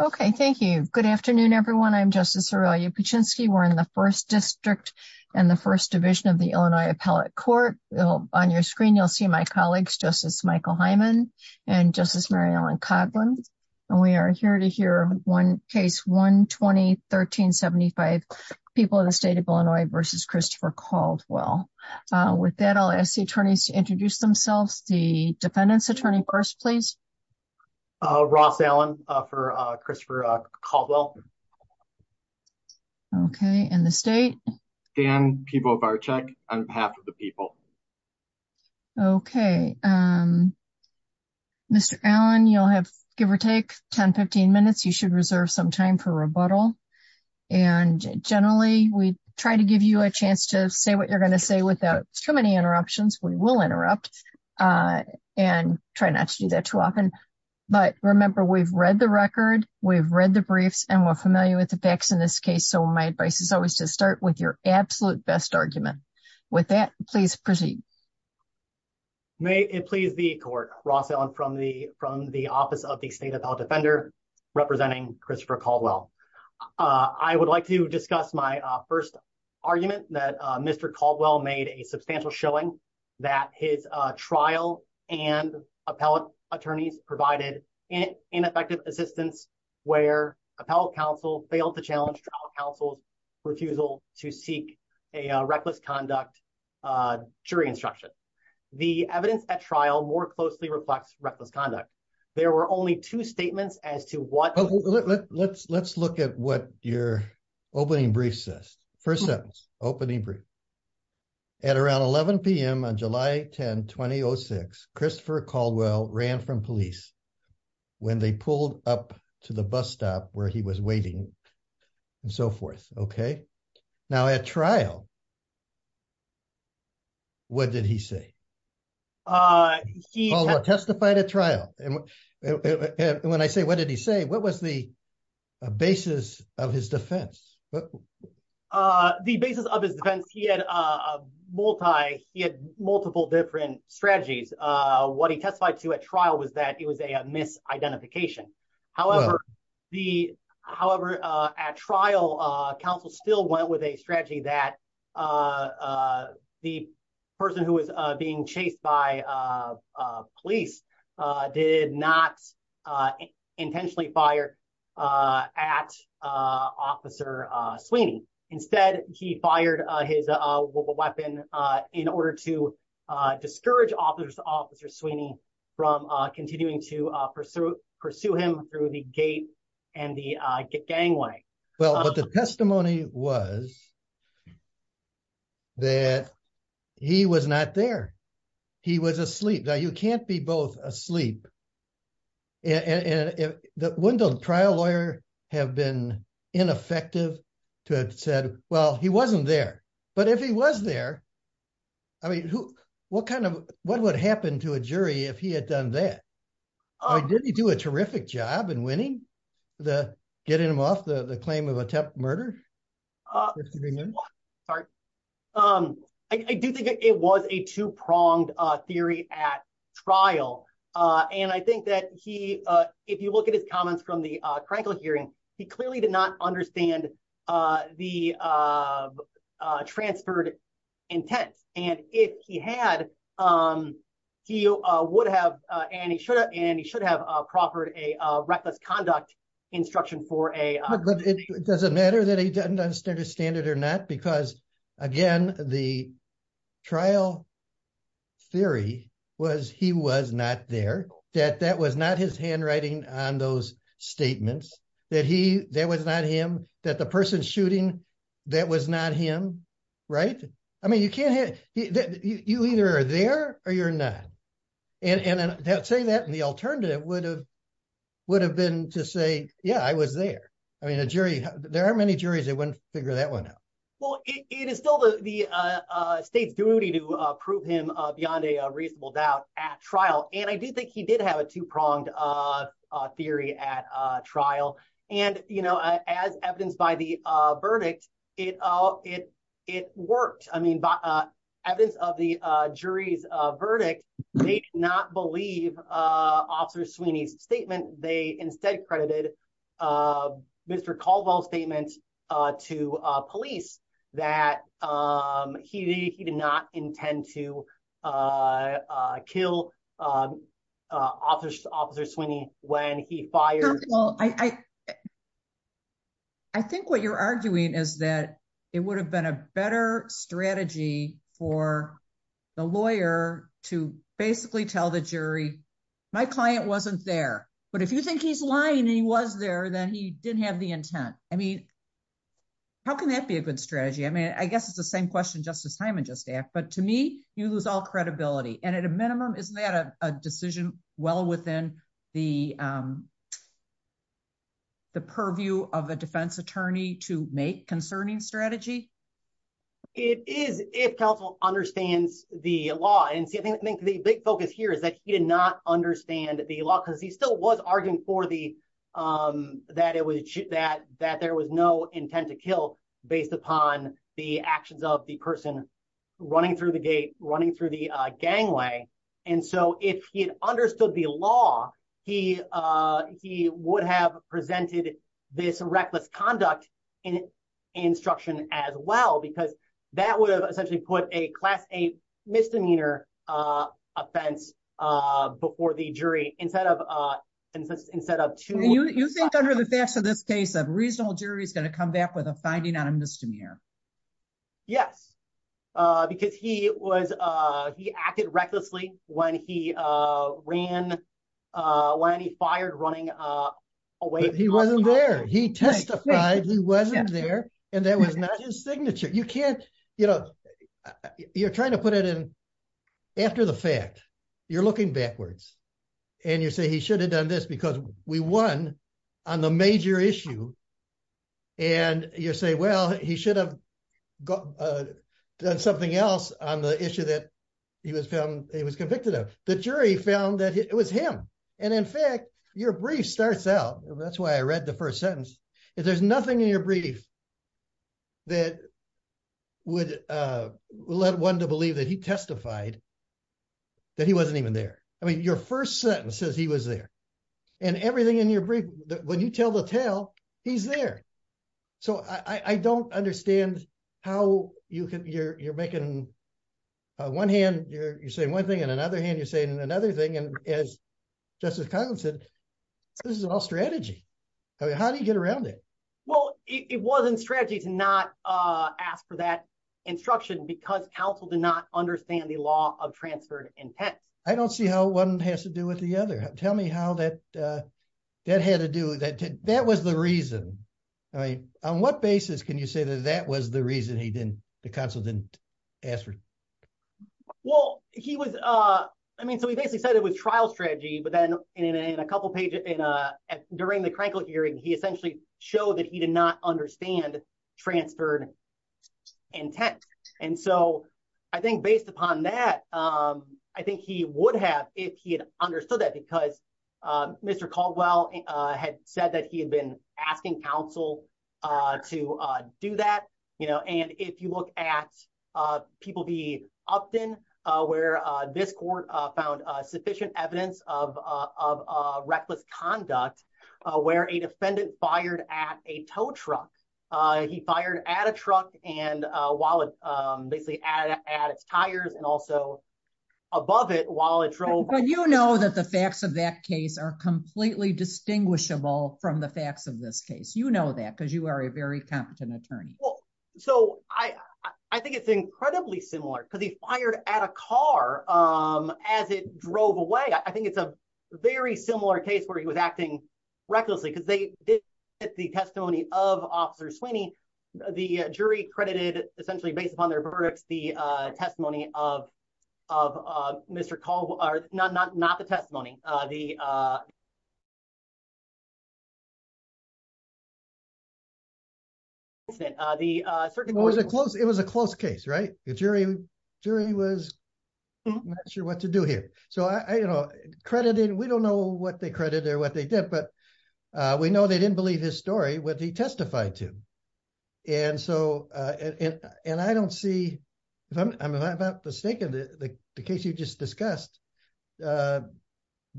Okay, thank you. Good afternoon, everyone. I'm Justice Aurelia Pichinsky. We're in the 1st District and the 1st Division of the Illinois Appellate Court. On your screen, you'll see my colleagues, Justice Michael Hyman and Justice Mary Ellen Coghlan. And we are here to hear case 120-1375, People of the State of Illinois v. Christopher Caldwell. With that, I'll ask the attorneys to introduce themselves. The defendant's attorney first, please. Uh, Ross Allen for Christopher Caldwell. Okay, and the state? Dan Pivovarczyk on behalf of the people. Okay, um, Mr. Allen, you'll have give or take 10-15 minutes. You should reserve some time for rebuttal. And generally, we try to give you a chance to say what you're going to say without too many interruptions. We will interrupt and try not to do that too often. But remember, we've read the record, we've read the briefs, and we're familiar with the facts in this case. So my advice is always to start with your absolute best argument. With that, please proceed. May it please the court, Ross Allen from the from the Office of the State Appellate Defender, representing Christopher Caldwell. I would like to discuss my first argument that Mr. Caldwell made a substantial showing that his trial and appellate attorneys provided ineffective assistance where appellate counsel failed to challenge trial counsel's refusal to seek a reckless conduct jury instruction. The evidence at trial more closely reflects reckless conduct. There were only two statements as to what- Let's let's look at what your opening brief says. First sentence, opening brief. At around 11 p.m. on July 10, 2006, Christopher Caldwell ran from police when they pulled up to the bus stop where he was waiting and so forth. Okay. Now at trial, what did he say? He testified at trial. And when I say what did he say, what was the basis of his defense? He had a multi, he had multiple different strategies. What he testified to at trial was that it was a misidentification. However, the however, at trial, counsel still went with a strategy that the person who was being chased by police did not intentionally fire at Officer Sweeney. Instead, he fired his weapon in order to discourage Officer Sweeney from continuing to pursue him through the gate and the gangway. Well, but the testimony was that he was not there. He was asleep. Now you can't be both asleep. And wouldn't a trial lawyer have been ineffective to have said, well, he wasn't there? But if he was there, I mean, what kind of, what would happen to a jury if he had done that? Did he do a terrific job in winning, getting him off the claim of attempted murder? Sorry. I do think it was a he, if you look at his comments from the hearing, he clearly did not understand the transferred intent. And if he had, he would have, and he should have, and he should have proffered a reckless conduct instruction for a- It doesn't matter that he doesn't understand it or not, because again, the trial theory was he was not there, that that was not his handwriting on those statements, that he, that was not him, that the person shooting, that was not him, right? I mean, you can't have, you either are there or you're not. And saying that in the alternative would have, would have been to say, yeah, I was there. I mean, a jury, there aren't many juries that wouldn't figure that one out. Well, it is still the state's duty to prove him beyond a reasonable doubt at trial. And I do think he did have a two-pronged theory at trial. And, you know, as evidenced by the verdict, it, it, it worked. I mean, evidence of the jury's verdict, they did not believe Officer Sweeney's statement. They recalled all statements to police that he did not intend to kill Officer Sweeney when he fired- Well, I, I think what you're arguing is that it would have been a better strategy for the lawyer to basically tell the jury, my client wasn't there, but if you think he's lying and he was there, then he didn't have the intent. I mean, how can that be a good strategy? I mean, I guess it's the same question Justice Hyman just asked, but to me, you lose all credibility. And at a minimum, isn't that a decision well within the, the purview of a defense attorney to make concerning strategy? It is if counsel understands the law. And see, I think the big focus here is that he did not understand the law because he still was arguing for the, that it was, that, that there was no intent to kill based upon the actions of the person running through the gate, running through the gangway. And so if he had understood the law, he, he would have presented this reckless conduct in instruction as well, because that would have essentially put a class eight misdemeanor offense before the jury instead of two. You think under the facts of this case, a reasonable jury is going to come back with a finding on a misdemeanor? Yes, because he was, he acted recklessly when he ran, when he fired running away. He wasn't there. He testified he wasn't there. And that was not his signature. You can't, you know, you're trying to put it in after the fact, you're looking backwards and you say he should have done this because we won on the major issue. And you say, well, he should have done something else on the issue that he was found, he was convicted of. The jury found that it was him. And in fact, your brief starts out, that's why I read the first sentence. If there's nothing in your brief that would lead one to believe that he testified that he wasn't even there. I mean, your first sentence says he was there and everything in your brief, when you tell the tale, he's there. So I don't understand how you can, you're making one hand, you're saying one thing and another hand, you're saying another thing. And as Justice Conlin said, this is all strategy. I mean, how do you get around it? Well, it wasn't strategy to not ask for that instruction because counsel did not understand the law of transferred intent. I don't see how one has to do with the other. Tell me how that had to do, that was the reason. I mean, on what basis can you say that that was the reason he was, I mean, so he basically said it was trial strategy, but then in a couple of pages during the Krenkel hearing, he essentially showed that he did not understand transferred intent. And so I think based upon that, I think he would have if he had understood that because Mr. Caldwell had said that he had been asking counsel to do that. And if you look at people being upped in where this court found sufficient evidence of reckless conduct, where a defendant fired at a tow truck, he fired at a truck and while it basically added at its tires and also above it while it drove. But you know that the facts of that case are completely distinguishable from the facts of this case. You know that because you are a very competent attorney. So I think it's incredibly similar because he fired at a car as it drove away. I think it's a very similar case where he was acting recklessly because they did get the testimony of Officer Sweeney. The jury credited essentially based upon their verdicts, the testimony of Mr. Caldwell, not the testimony. It was a close case, right? The jury was not sure what to do here. So we don't know what they credited or what they did, but we know they didn't believe his story when they testified to him. And I don't see, if I'm not mistaken, the case you just discussed,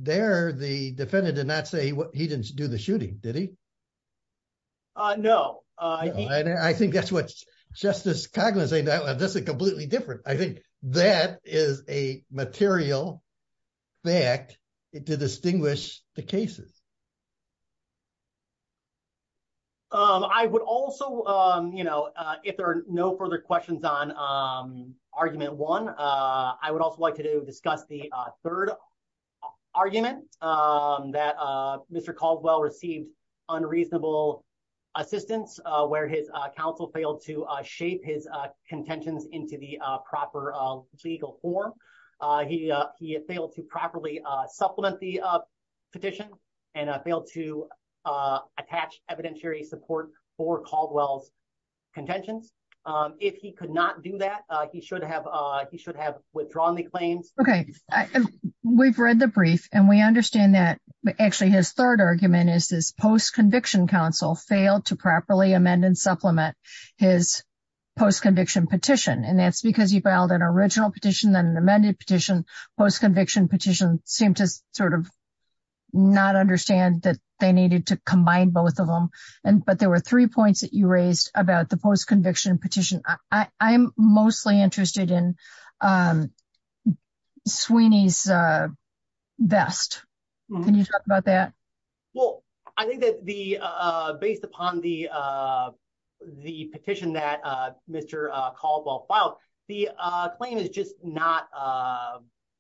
there the defendant did not say he didn't do the shooting, did he? No. I think that's what Justice Cogman is saying. That's completely different. I think that is a material fact to distinguish the cases. I would also, you know, if there are no further questions on argument one, I would also like to discuss the third argument that Mr. Caldwell received unreasonable assistance where his counsel failed to shape his contentions into the proper legal form. He failed to properly supplement the petition and failed to attach evidentiary support for Caldwell's contentions. If he could not do that, he should have withdrawn the claims. Okay. We've read the brief and we understand that actually his third argument is his post-conviction counsel failed to properly amend and supplement his post-conviction petition. And that's because he filed an original petition, then an amended petition. Post-conviction petition seemed to sort of not understand that they needed to combine both of them. But there were three points that you raised about the post-conviction petition. I'm mostly interested in Sweeney's vest. Can you talk about that? Well, I think that based upon the petition that Mr. Caldwell filed, the claim is just not...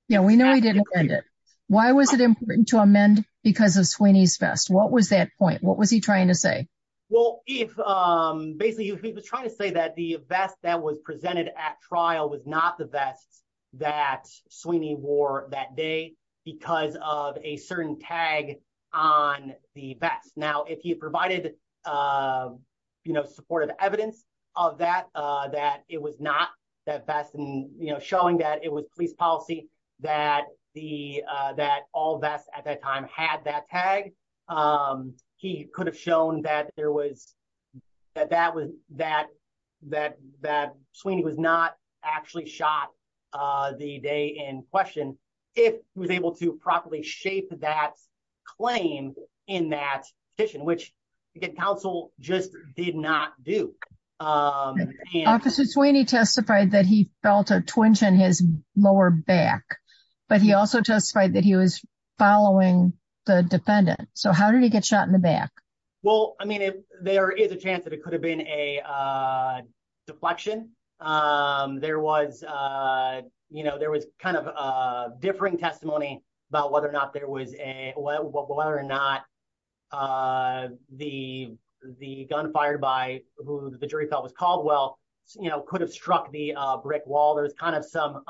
Yeah, we know he didn't amend it. Why was it important to amend because of Sweeney's vest? What was that point? What was he trying to say? Well, if basically he was trying to say that the vest that was presented at trial was not the vest that Sweeney wore that day because of a certain tag on the vest. Now, if he provided supportive evidence of that, that it was not that vest and showing that it was police policy that all vests at that time had that tag, he could have shown that Sweeney was not actually shot the day in question if he was able to properly shape that claim in that petition, which counsel just did not do. Officer Sweeney testified that he felt a twinge in his lower back, but he also testified that he was following the defendant. So how did he get shot in the back? Well, I mean, there is a chance that it could have been a deflection. There was kind of a differing testimony about whether or not the gun fired by who the jury felt was Caldwell could have struck the brick wall. There's kind of some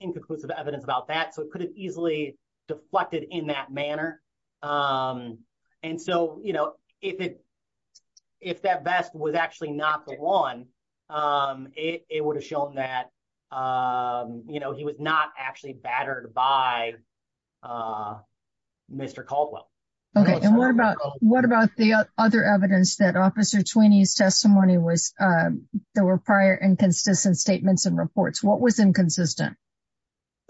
inconclusive evidence about that. So it could have easily deflected in that manner. And so if that vest was actually not the one, it would have shown that he was not actually battered by Mr. Caldwell. Okay. And what about the other evidence that Officer Sweeney's testimony was, there were prior inconsistent statements and reports? What was inconsistent?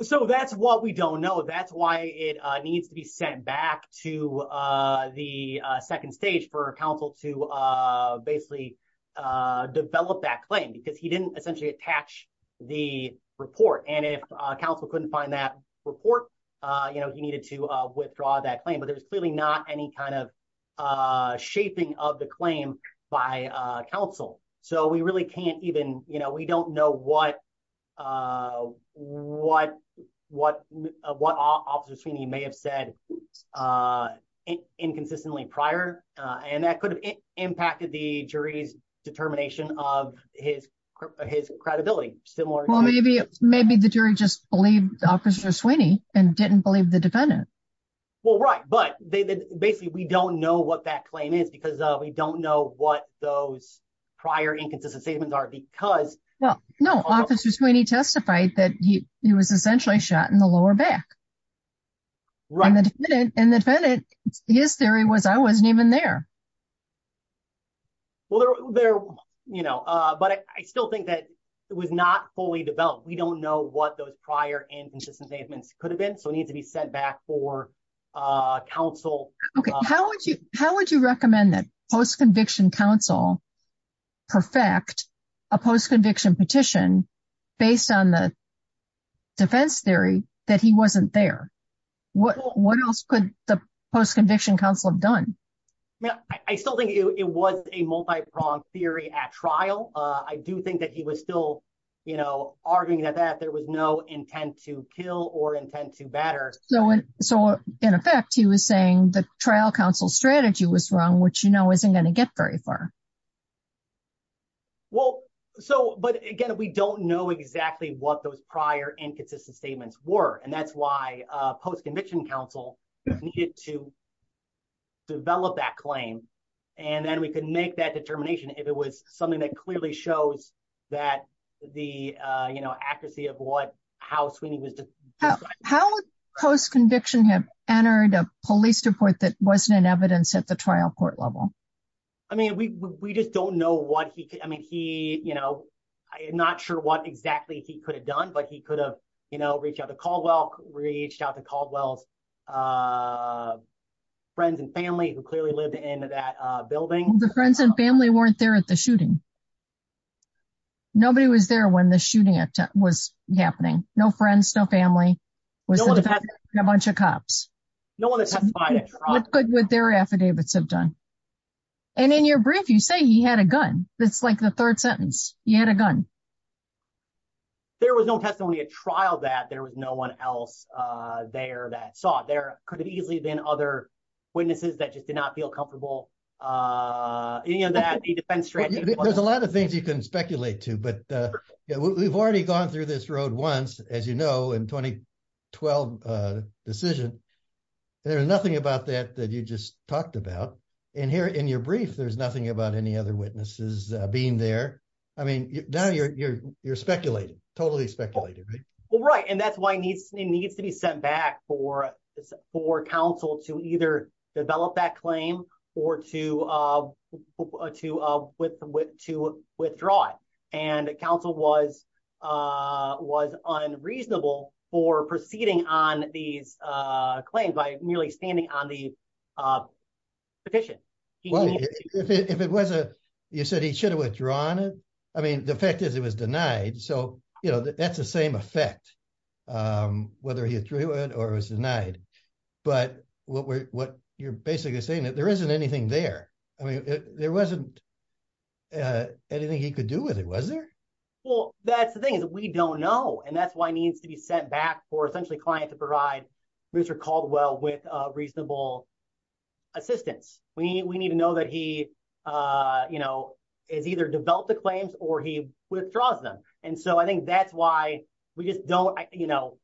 So that's what we don't know. That's why it needs to be sent back to the second stage for counsel to basically develop that claim because he didn't essentially attach the report. And if counsel couldn't find that report, he needed to withdraw that claim, but there was clearly not any kind of shaping of the claim by counsel. So we don't know what Officer Sweeney may have said inconsistently prior, and that could have impacted the jury's determination of his credibility. Well, maybe the jury just believed Officer Sweeney and didn't believe the defendant. Well, right. But basically we don't know what that claim is because we don't know what those prior inconsistent statements are because... No, Officer Sweeney testified that he was essentially shot in the lower back. Right. And the defendant, his theory was, I wasn't even there. Well, but I still think that it was not fully developed. We don't know what those prior inconsistent statements could have been, so it needs to be sent back for counsel. Okay. How would you recommend that post-conviction counsel perfect a post-conviction petition based on the defense theory that he wasn't there? What else could the post-conviction counsel have done? I still think it was a multi-pronged theory at trial. I do think that he was still arguing that there was no intent to kill or intent to batter. So in effect, he was saying the trial counsel strategy was wrong, which isn't going to get very far. Well, but again, we don't know exactly what those prior inconsistent statements were. And that's why post-conviction counsel needed to develop that claim. And then we can make that determination if it was something that clearly shows that the accuracy of how Sweeney was... How would post-conviction have entered a police report that wasn't in evidence at the trial court level? I mean, we just don't know what he could... I mean, he... I'm not sure what exactly he could have done, but he could have reached out to Caldwell, reached out to Caldwell's friends and family who clearly lived in that building. The friends and family weren't there at the shooting. Nobody was there when the shooting was happening. No friends, no family, was a bunch of cops. No one testified at trial. What good would their affidavits have done? And in your brief, you say he had a gun. That's like the third sentence. He had a gun. There was no testimony at trial that there was no one else there that saw it. There could have easily been other witnesses that just did not feel comfortable. Any of that defense strategy. There's a lot of things you can speculate to, but we've already gone through this road once, as you know, in the 2012 decision. There's nothing about that that you just talked about. And here in your brief, there's nothing about any other witnesses being there. I mean, now you're speculating, totally speculating, right? Well, right. And that's why it needs to be sent back for counsel to either develop that claim or to withdraw it. And counsel was unreasonable for proceeding on these claims by merely standing on the petition. If it wasn't, you said he should have withdrawn it. I mean, the fact is it was denied. So, you know, that's the same effect, whether he withdrew it or was denied. But what you're basically saying that there isn't anything there. I mean, there wasn't anything he could do with it, Well, that's the thing is we don't know. And that's why it needs to be sent back for essentially client to provide Mr. Caldwell with reasonable assistance. We need to know that he, you know, is either developed the claims or he withdraws them. And so I think that's why we just don't, you know,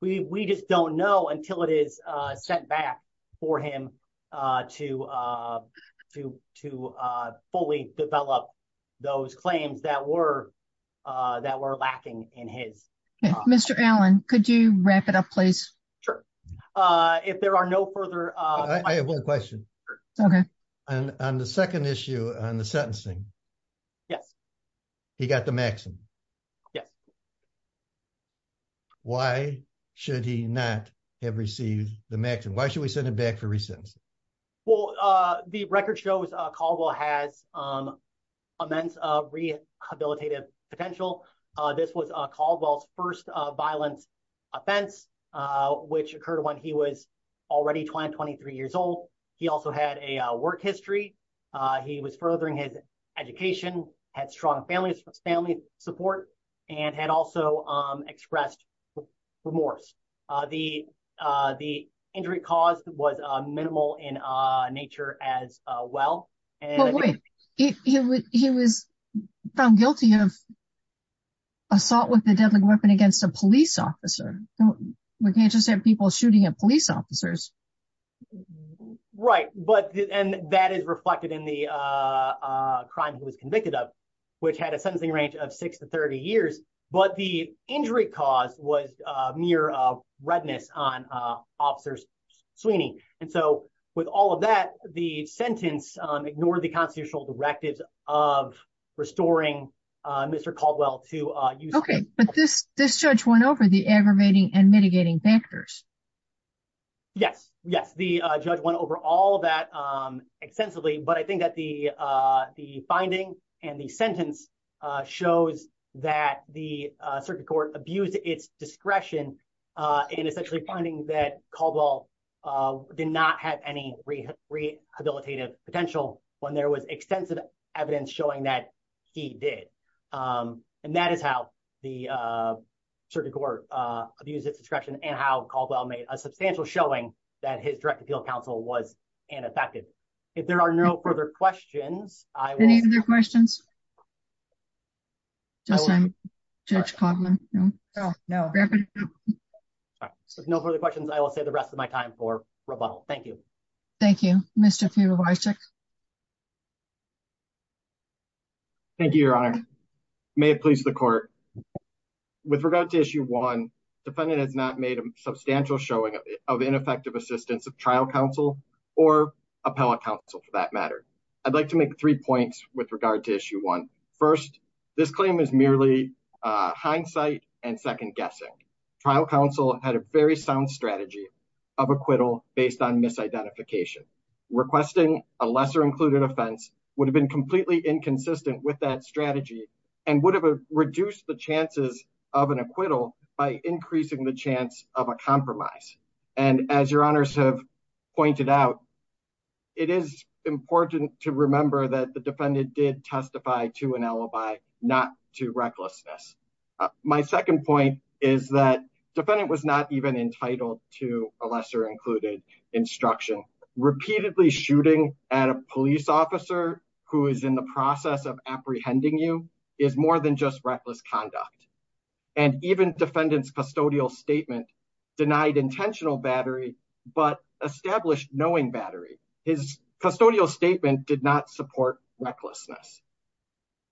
we just don't know until it is sent back for him to fully develop those claims that were that were lacking in his. Mr. Allen, could you wrap it up, please? Sure. If there are no further. I have one question. Okay. And on the second issue on the sentencing. Yes. He got the maximum. Why should he not have received the maximum? Why should we send it back for recents? Well, the record shows Caldwell has immense rehabilitative potential. This was Caldwell's first violence offense, which occurred when he was already 223 years old. He also had a work history. He was furthering his education, had strong families, family support, and had also expressed remorse. The injury caused was minimal in nature as well. He was found guilty of assault with a deadly weapon against a police officer. We can't just have people shooting at police officers. Right. But and that is reflected in the crime he was convicted of, which had a injury cause was mere redness on officers Sweeney. And so with all of that, the sentence ignored the constitutional directives of restoring Mr. Caldwell to you. Okay, but this this judge went over the aggravating and mitigating factors. Yes, yes, the judge went over all that extensively. But I think that the the finding and the sentence shows that the circuit court abused its discretion in essentially finding that Caldwell did not have any rehabilitative potential when there was extensive evidence showing that he did. And that is how the circuit court abused its discretion and how Caldwell made a substantial showing that his direct appeal counsel was ineffective. If there are no further questions, I need your questions. Just Judge Cogman. No, no. No further questions. I will say the rest of my time for rebuttal. Thank you. Thank you, Mr. Fever. Thank you, Your Honor. May it please the court. With regard to issue one defendant has not made substantial showing of ineffective assistance of trial counsel or appellate counsel for that matter. I'd like to make three points with regard to issue one. First, this claim is merely hindsight and second guessing. Trial counsel had a very sound strategy of acquittal based on misidentification. Requesting a lesser included offense would have been completely inconsistent with that strategy and would have reduced the chances of an acquittal by increasing the chance of a compromise. And as Your Honors have pointed out, it is important to remember that the defendant did testify to an alibi, not to recklessness. My second point is that defendant was not even entitled to a lesser included instruction. Repeatedly shooting at a police officer who is in the process of apprehending you is more than just reckless conduct. And even defendant's custodial statement denied intentional battery but established knowing battery. His custodial statement did not support recklessness.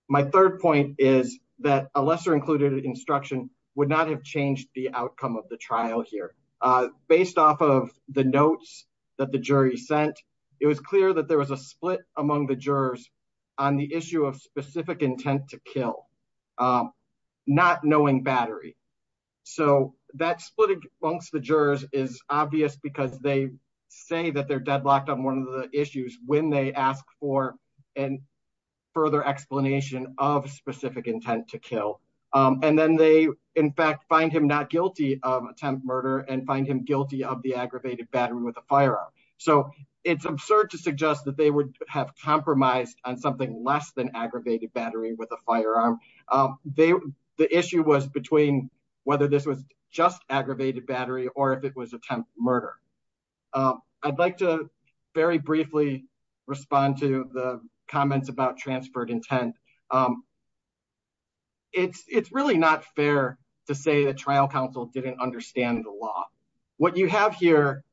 My third point is that a lesser included instruction would not have changed the outcome of the trial here. Based off of the notes that the jury sent, it was clear that there was a split among the jurors on the issue of specific intent to kill, not knowing battery. So that split amongst the jurors is obvious because they say that they're deadlocked on one of the issues when they ask for a further explanation of specific intent to kill. And then they in fact find him not guilty of attempt murder and find him guilty of the aggravated battery with a firearm. So it's absurd to suggest that they would have compromised on something less than aggravated battery with a firearm. The issue was between whether this was just aggravated battery or if it was attempt murder. I'd like to very briefly respond to the comments about transferred intent. It's really not fair to say the trial counsel didn't understand the law. What you have here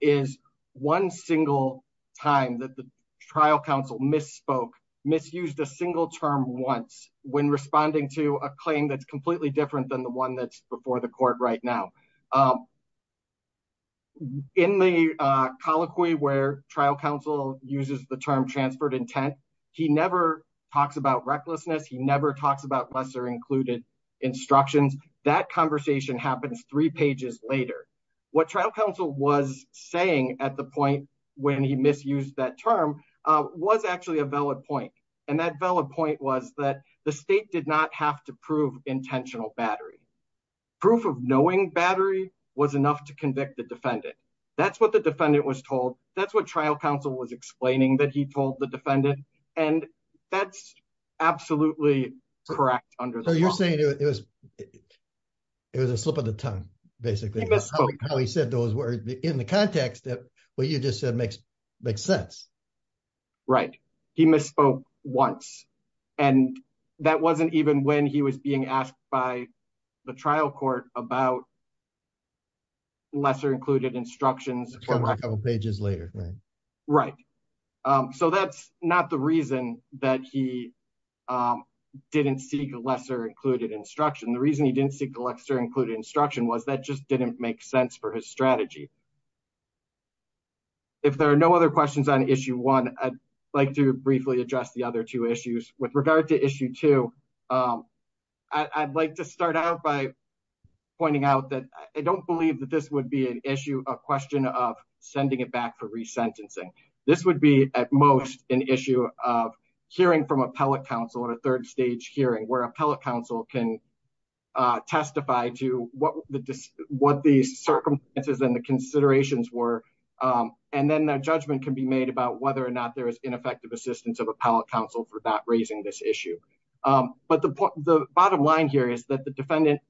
is one single time that the trial counsel misspoke, misused a single term once when responding to a claim that's completely different than the one that's before the court right now. In the colloquy where trial counsel uses the term transferred intent, he never talks about recklessness. He never talks about lesser included instructions. That conversation happens three pages later. What trial counsel was saying at the point when he misused that term was actually a valid point. And that valid point was that the state did not have to prove intentional battery. Proof of knowing battery was enough to convict the defendant. That's what the defendant was told. That's what trial counsel was explaining that he told the defendant. And that's absolutely correct under the law. So you're saying it was a slip of the tongue, basically, how he said those words in the context that what you just said makes sense. Right. He misspoke once. And that wasn't even when he was being asked by the trial court about lesser included instructions a couple of pages later. Right. So that's not the reason that he didn't seek a lesser included instruction. The reason he didn't seek a lesser included instruction was that just didn't make sense for his strategy. If there are no other questions on issue one, I'd like to briefly address the other two issues with regard to issue two. I'd like to start out by pointing out that I don't believe that this would be an issue, a question of sending it back for resentencing. This would be at most an issue of hearing from appellate counsel at a third stage hearing where appellate counsel can testify to what the circumstances and the considerations were. And then that judgment can be made about whether or not there is ineffective assistance of appellate counsel for that raising this issue. But the bottom line here is that the defendant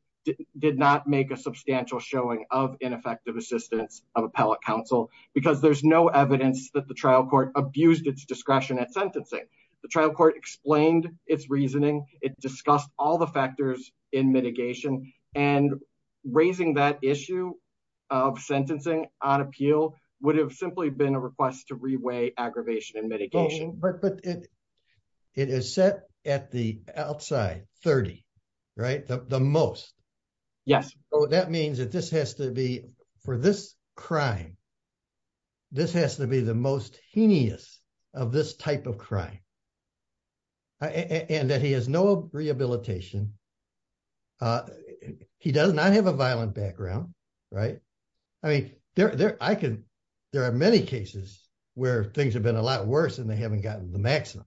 did not make a substantial showing of ineffective assistance of appellate counsel because there's no evidence that the trial court abused its discretion at sentencing. The trial court explained its reasoning. It discussed all the factors in mitigation and raising that issue of sentencing on appeal would have simply been a request to 30, right? The most. So that means that this has to be, for this crime, this has to be the most heinous of this type of crime. And that he has no rehabilitation. He does not have a violent background, right? I mean, there are many cases where things have gotten a lot worse and they haven't gotten the maximum.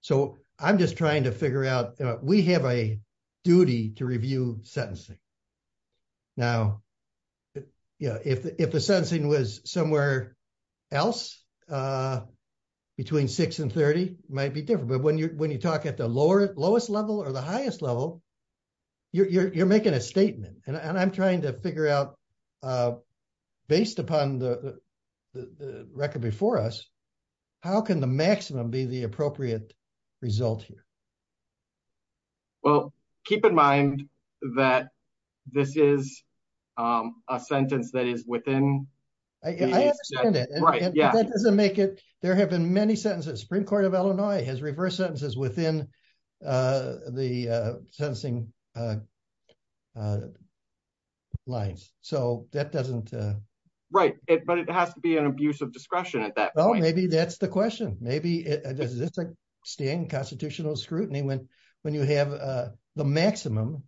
So I'm just trying to figure out, we have a duty to review sentencing. Now, yeah, if the sentencing was somewhere else between six and 30, it might be different. But when you talk at the lowest level or the highest level, you're making a statement. And I'm trying to figure out based upon the record before us, how can the maximum be the appropriate result here? Well, keep in mind that this is a sentence that is within. I understand it. That doesn't make it, there have been many sentences, Supreme Court of Illinois has reversed sentences within the sentencing lines. So that doesn't. Right. But it has to be an abuse of discretion at that point. Maybe that's the question. Maybe it's like staying constitutional scrutiny when you have the maximum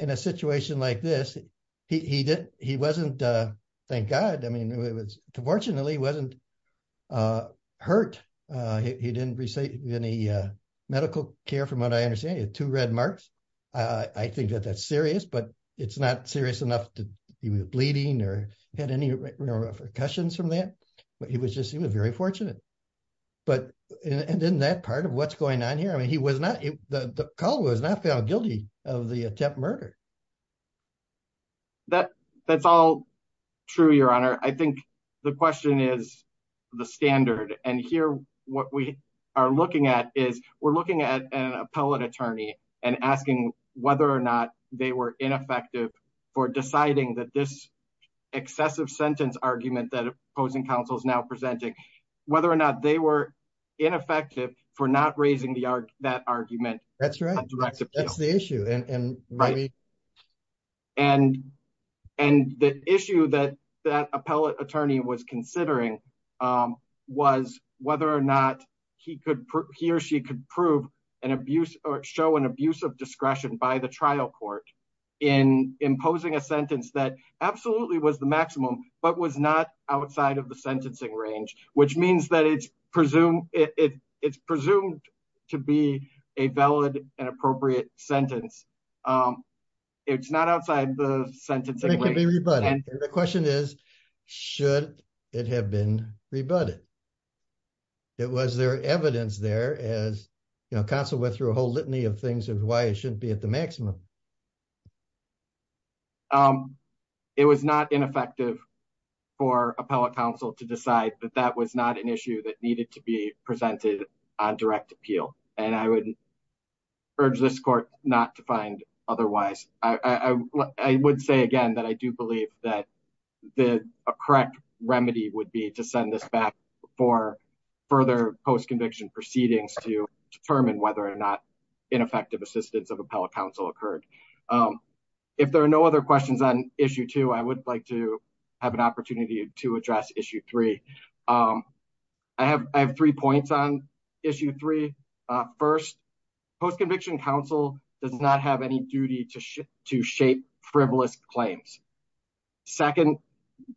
in a situation like this. He wasn't, thank God. I mean, it was, fortunately he wasn't hurt. He didn't receive any medical care from what I understand. He had two red marks. I think that that's serious, but it's not serious enough that he was bleeding or had any repercussions from that, but he was just, he was very fortunate. But, and in that part of what's going on here, I mean, he was not, the colleague was not found guilty of the attempted murder. That's all true, Your Honor. I think the question is the standard. And here, what we are looking at is we're looking at an appellate attorney and asking whether or not they were ineffective for deciding that this excessive sentence argument that opposing counsel is now presenting, whether or not they were ineffective for not raising that argument. That's right. That's the issue. And the issue that that appellate attorney was considering was whether or not he could, he or she could prove an abuse or show an abuse of discretion by the trial court in imposing a sentence that absolutely was the maximum, but was not outside of the sentencing range, which means that it's presumed to be a valid and appropriate sentence. It's not outside the sentencing range. It could be rebutted. The question is, should it have been rebutted? Was there evidence there as counsel went through a whole litany of things of why it shouldn't be at the maximum? It was not ineffective for appellate counsel to decide that that was not an issue that needed to be presented on direct appeal. And I would urge this court not to find otherwise. I would say again, that I do believe that a correct remedy would be to send this back for further post-conviction proceedings to determine whether or not ineffective assistance of appellate counsel occurred. If there are no other questions on issue two, I would like to have an opportunity to address issue three. I have three points on issue three. First, post-conviction counsel does not have any duty to shape frivolous claims. Second,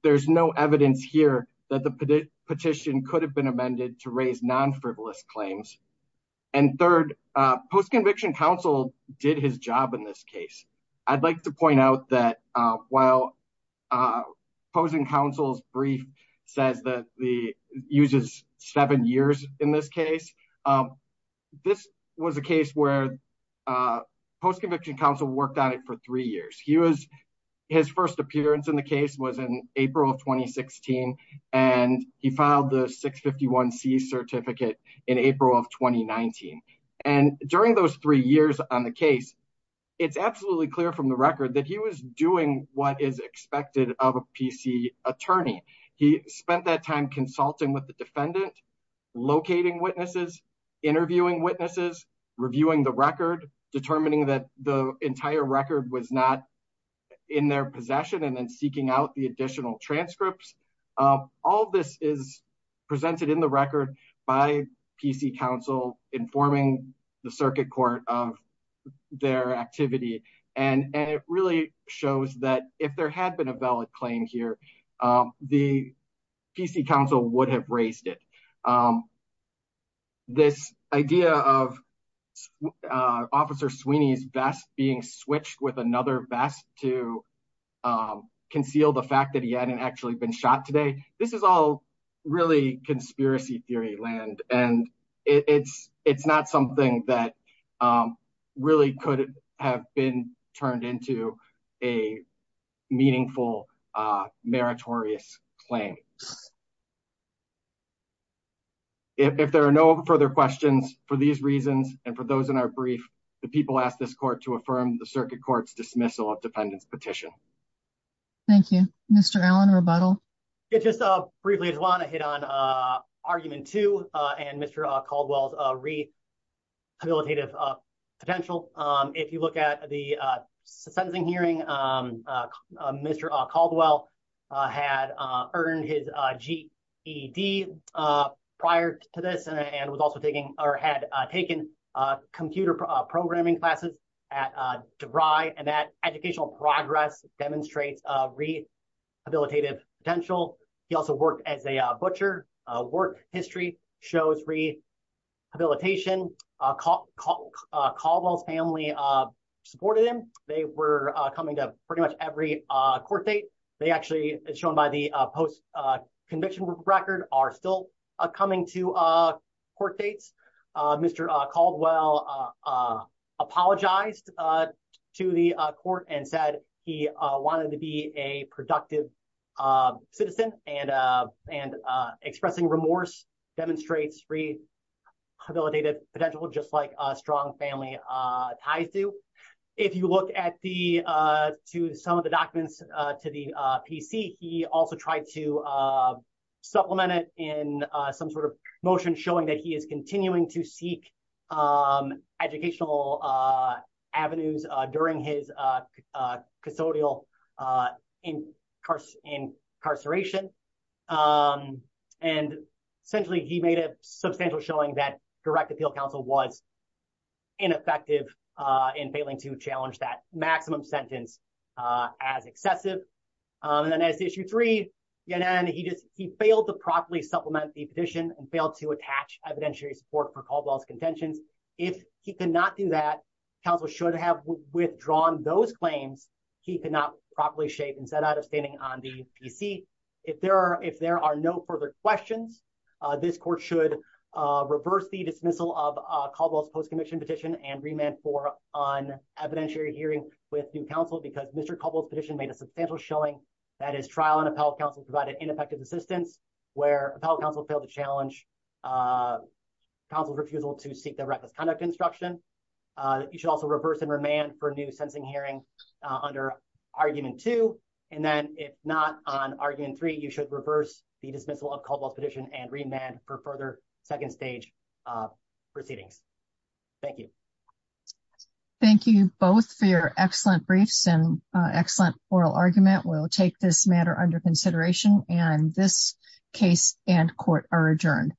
there's no evidence here that the petition could have been post-conviction counsel did his job in this case. I'd like to point out that while posing counsel's brief says that the uses seven years in this case, this was a case where post-conviction counsel worked on it for three years. His first appearance in the case was in during those three years on the case. It's absolutely clear from the record that he was doing what is expected of a PC attorney. He spent that time consulting with the defendant, locating witnesses, interviewing witnesses, reviewing the record, determining that the entire record was not in their possession, and then seeking out the additional transcripts. All this is presented in the record by PC counsel informing the circuit court of their activity. It really shows that if there had been a valid claim here, the PC counsel would have raised it. This idea of Officer Sweeney's vest being switched with this is all really conspiracy theory land, and it's not something that really could have been turned into a meaningful meritorious claim. If there are no further questions for these reasons and for those in our brief, the people ask this court to affirm the circuit court's dismissal of defendant's petition. Thank you. Mr. Allen, rebuttal. Yeah, just briefly, I just want to hit on argument two and Mr. Caldwell's rehabilitative potential. If you look at the sentencing hearing, Mr. Caldwell had earned his GED prior to this and was also taking or had taken computer programming classes at DeVry, and that educational progress demonstrates rehabilitative potential. He also worked as a butcher. Work history shows rehabilitation. Caldwell's family supported him. They were coming to pretty much every court date. They actually, as shown by the post-conviction record, are still coming to court dates. Mr. Caldwell apologized to the court and said he wanted to be a productive citizen, and expressing remorse demonstrates rehabilitative potential, just like strong family ties do. If you look at some of the documents to the PC, he also tried to supplement it in some sort of motion showing that he is continuing to seek educational avenues during his custodial incarceration. Essentially, he made a substantial showing that direct appeal counsel was ineffective in failing to challenge that maximum sentence as excessive. Then as issue three, he failed to properly supplement the petition and failed to attach evidentiary support for Caldwell's contentions. If he could not do that, counsel should have withdrawn those claims. He could not properly shape and set out of standing on the PC. If there are no further questions, this court should reverse the dismissal of Caldwell's post-conviction petition and remand for an evidentiary hearing with new counsel because Mr. Caldwell's petition made a substantial showing that his trial and appellate counsel provided ineffective assistance where appellate counsel failed to challenge counsel's refusal to seek the reckless conduct instruction. You should also reverse and remand for a new sentencing hearing under argument two, and then if not on argument three, you should reverse the dismissal of Caldwell's petition and remand for further second stage proceedings. Thank you. Thank you both for your excellent briefs and excellent oral argument. We'll take this matter under consideration and this case and court are adjourned.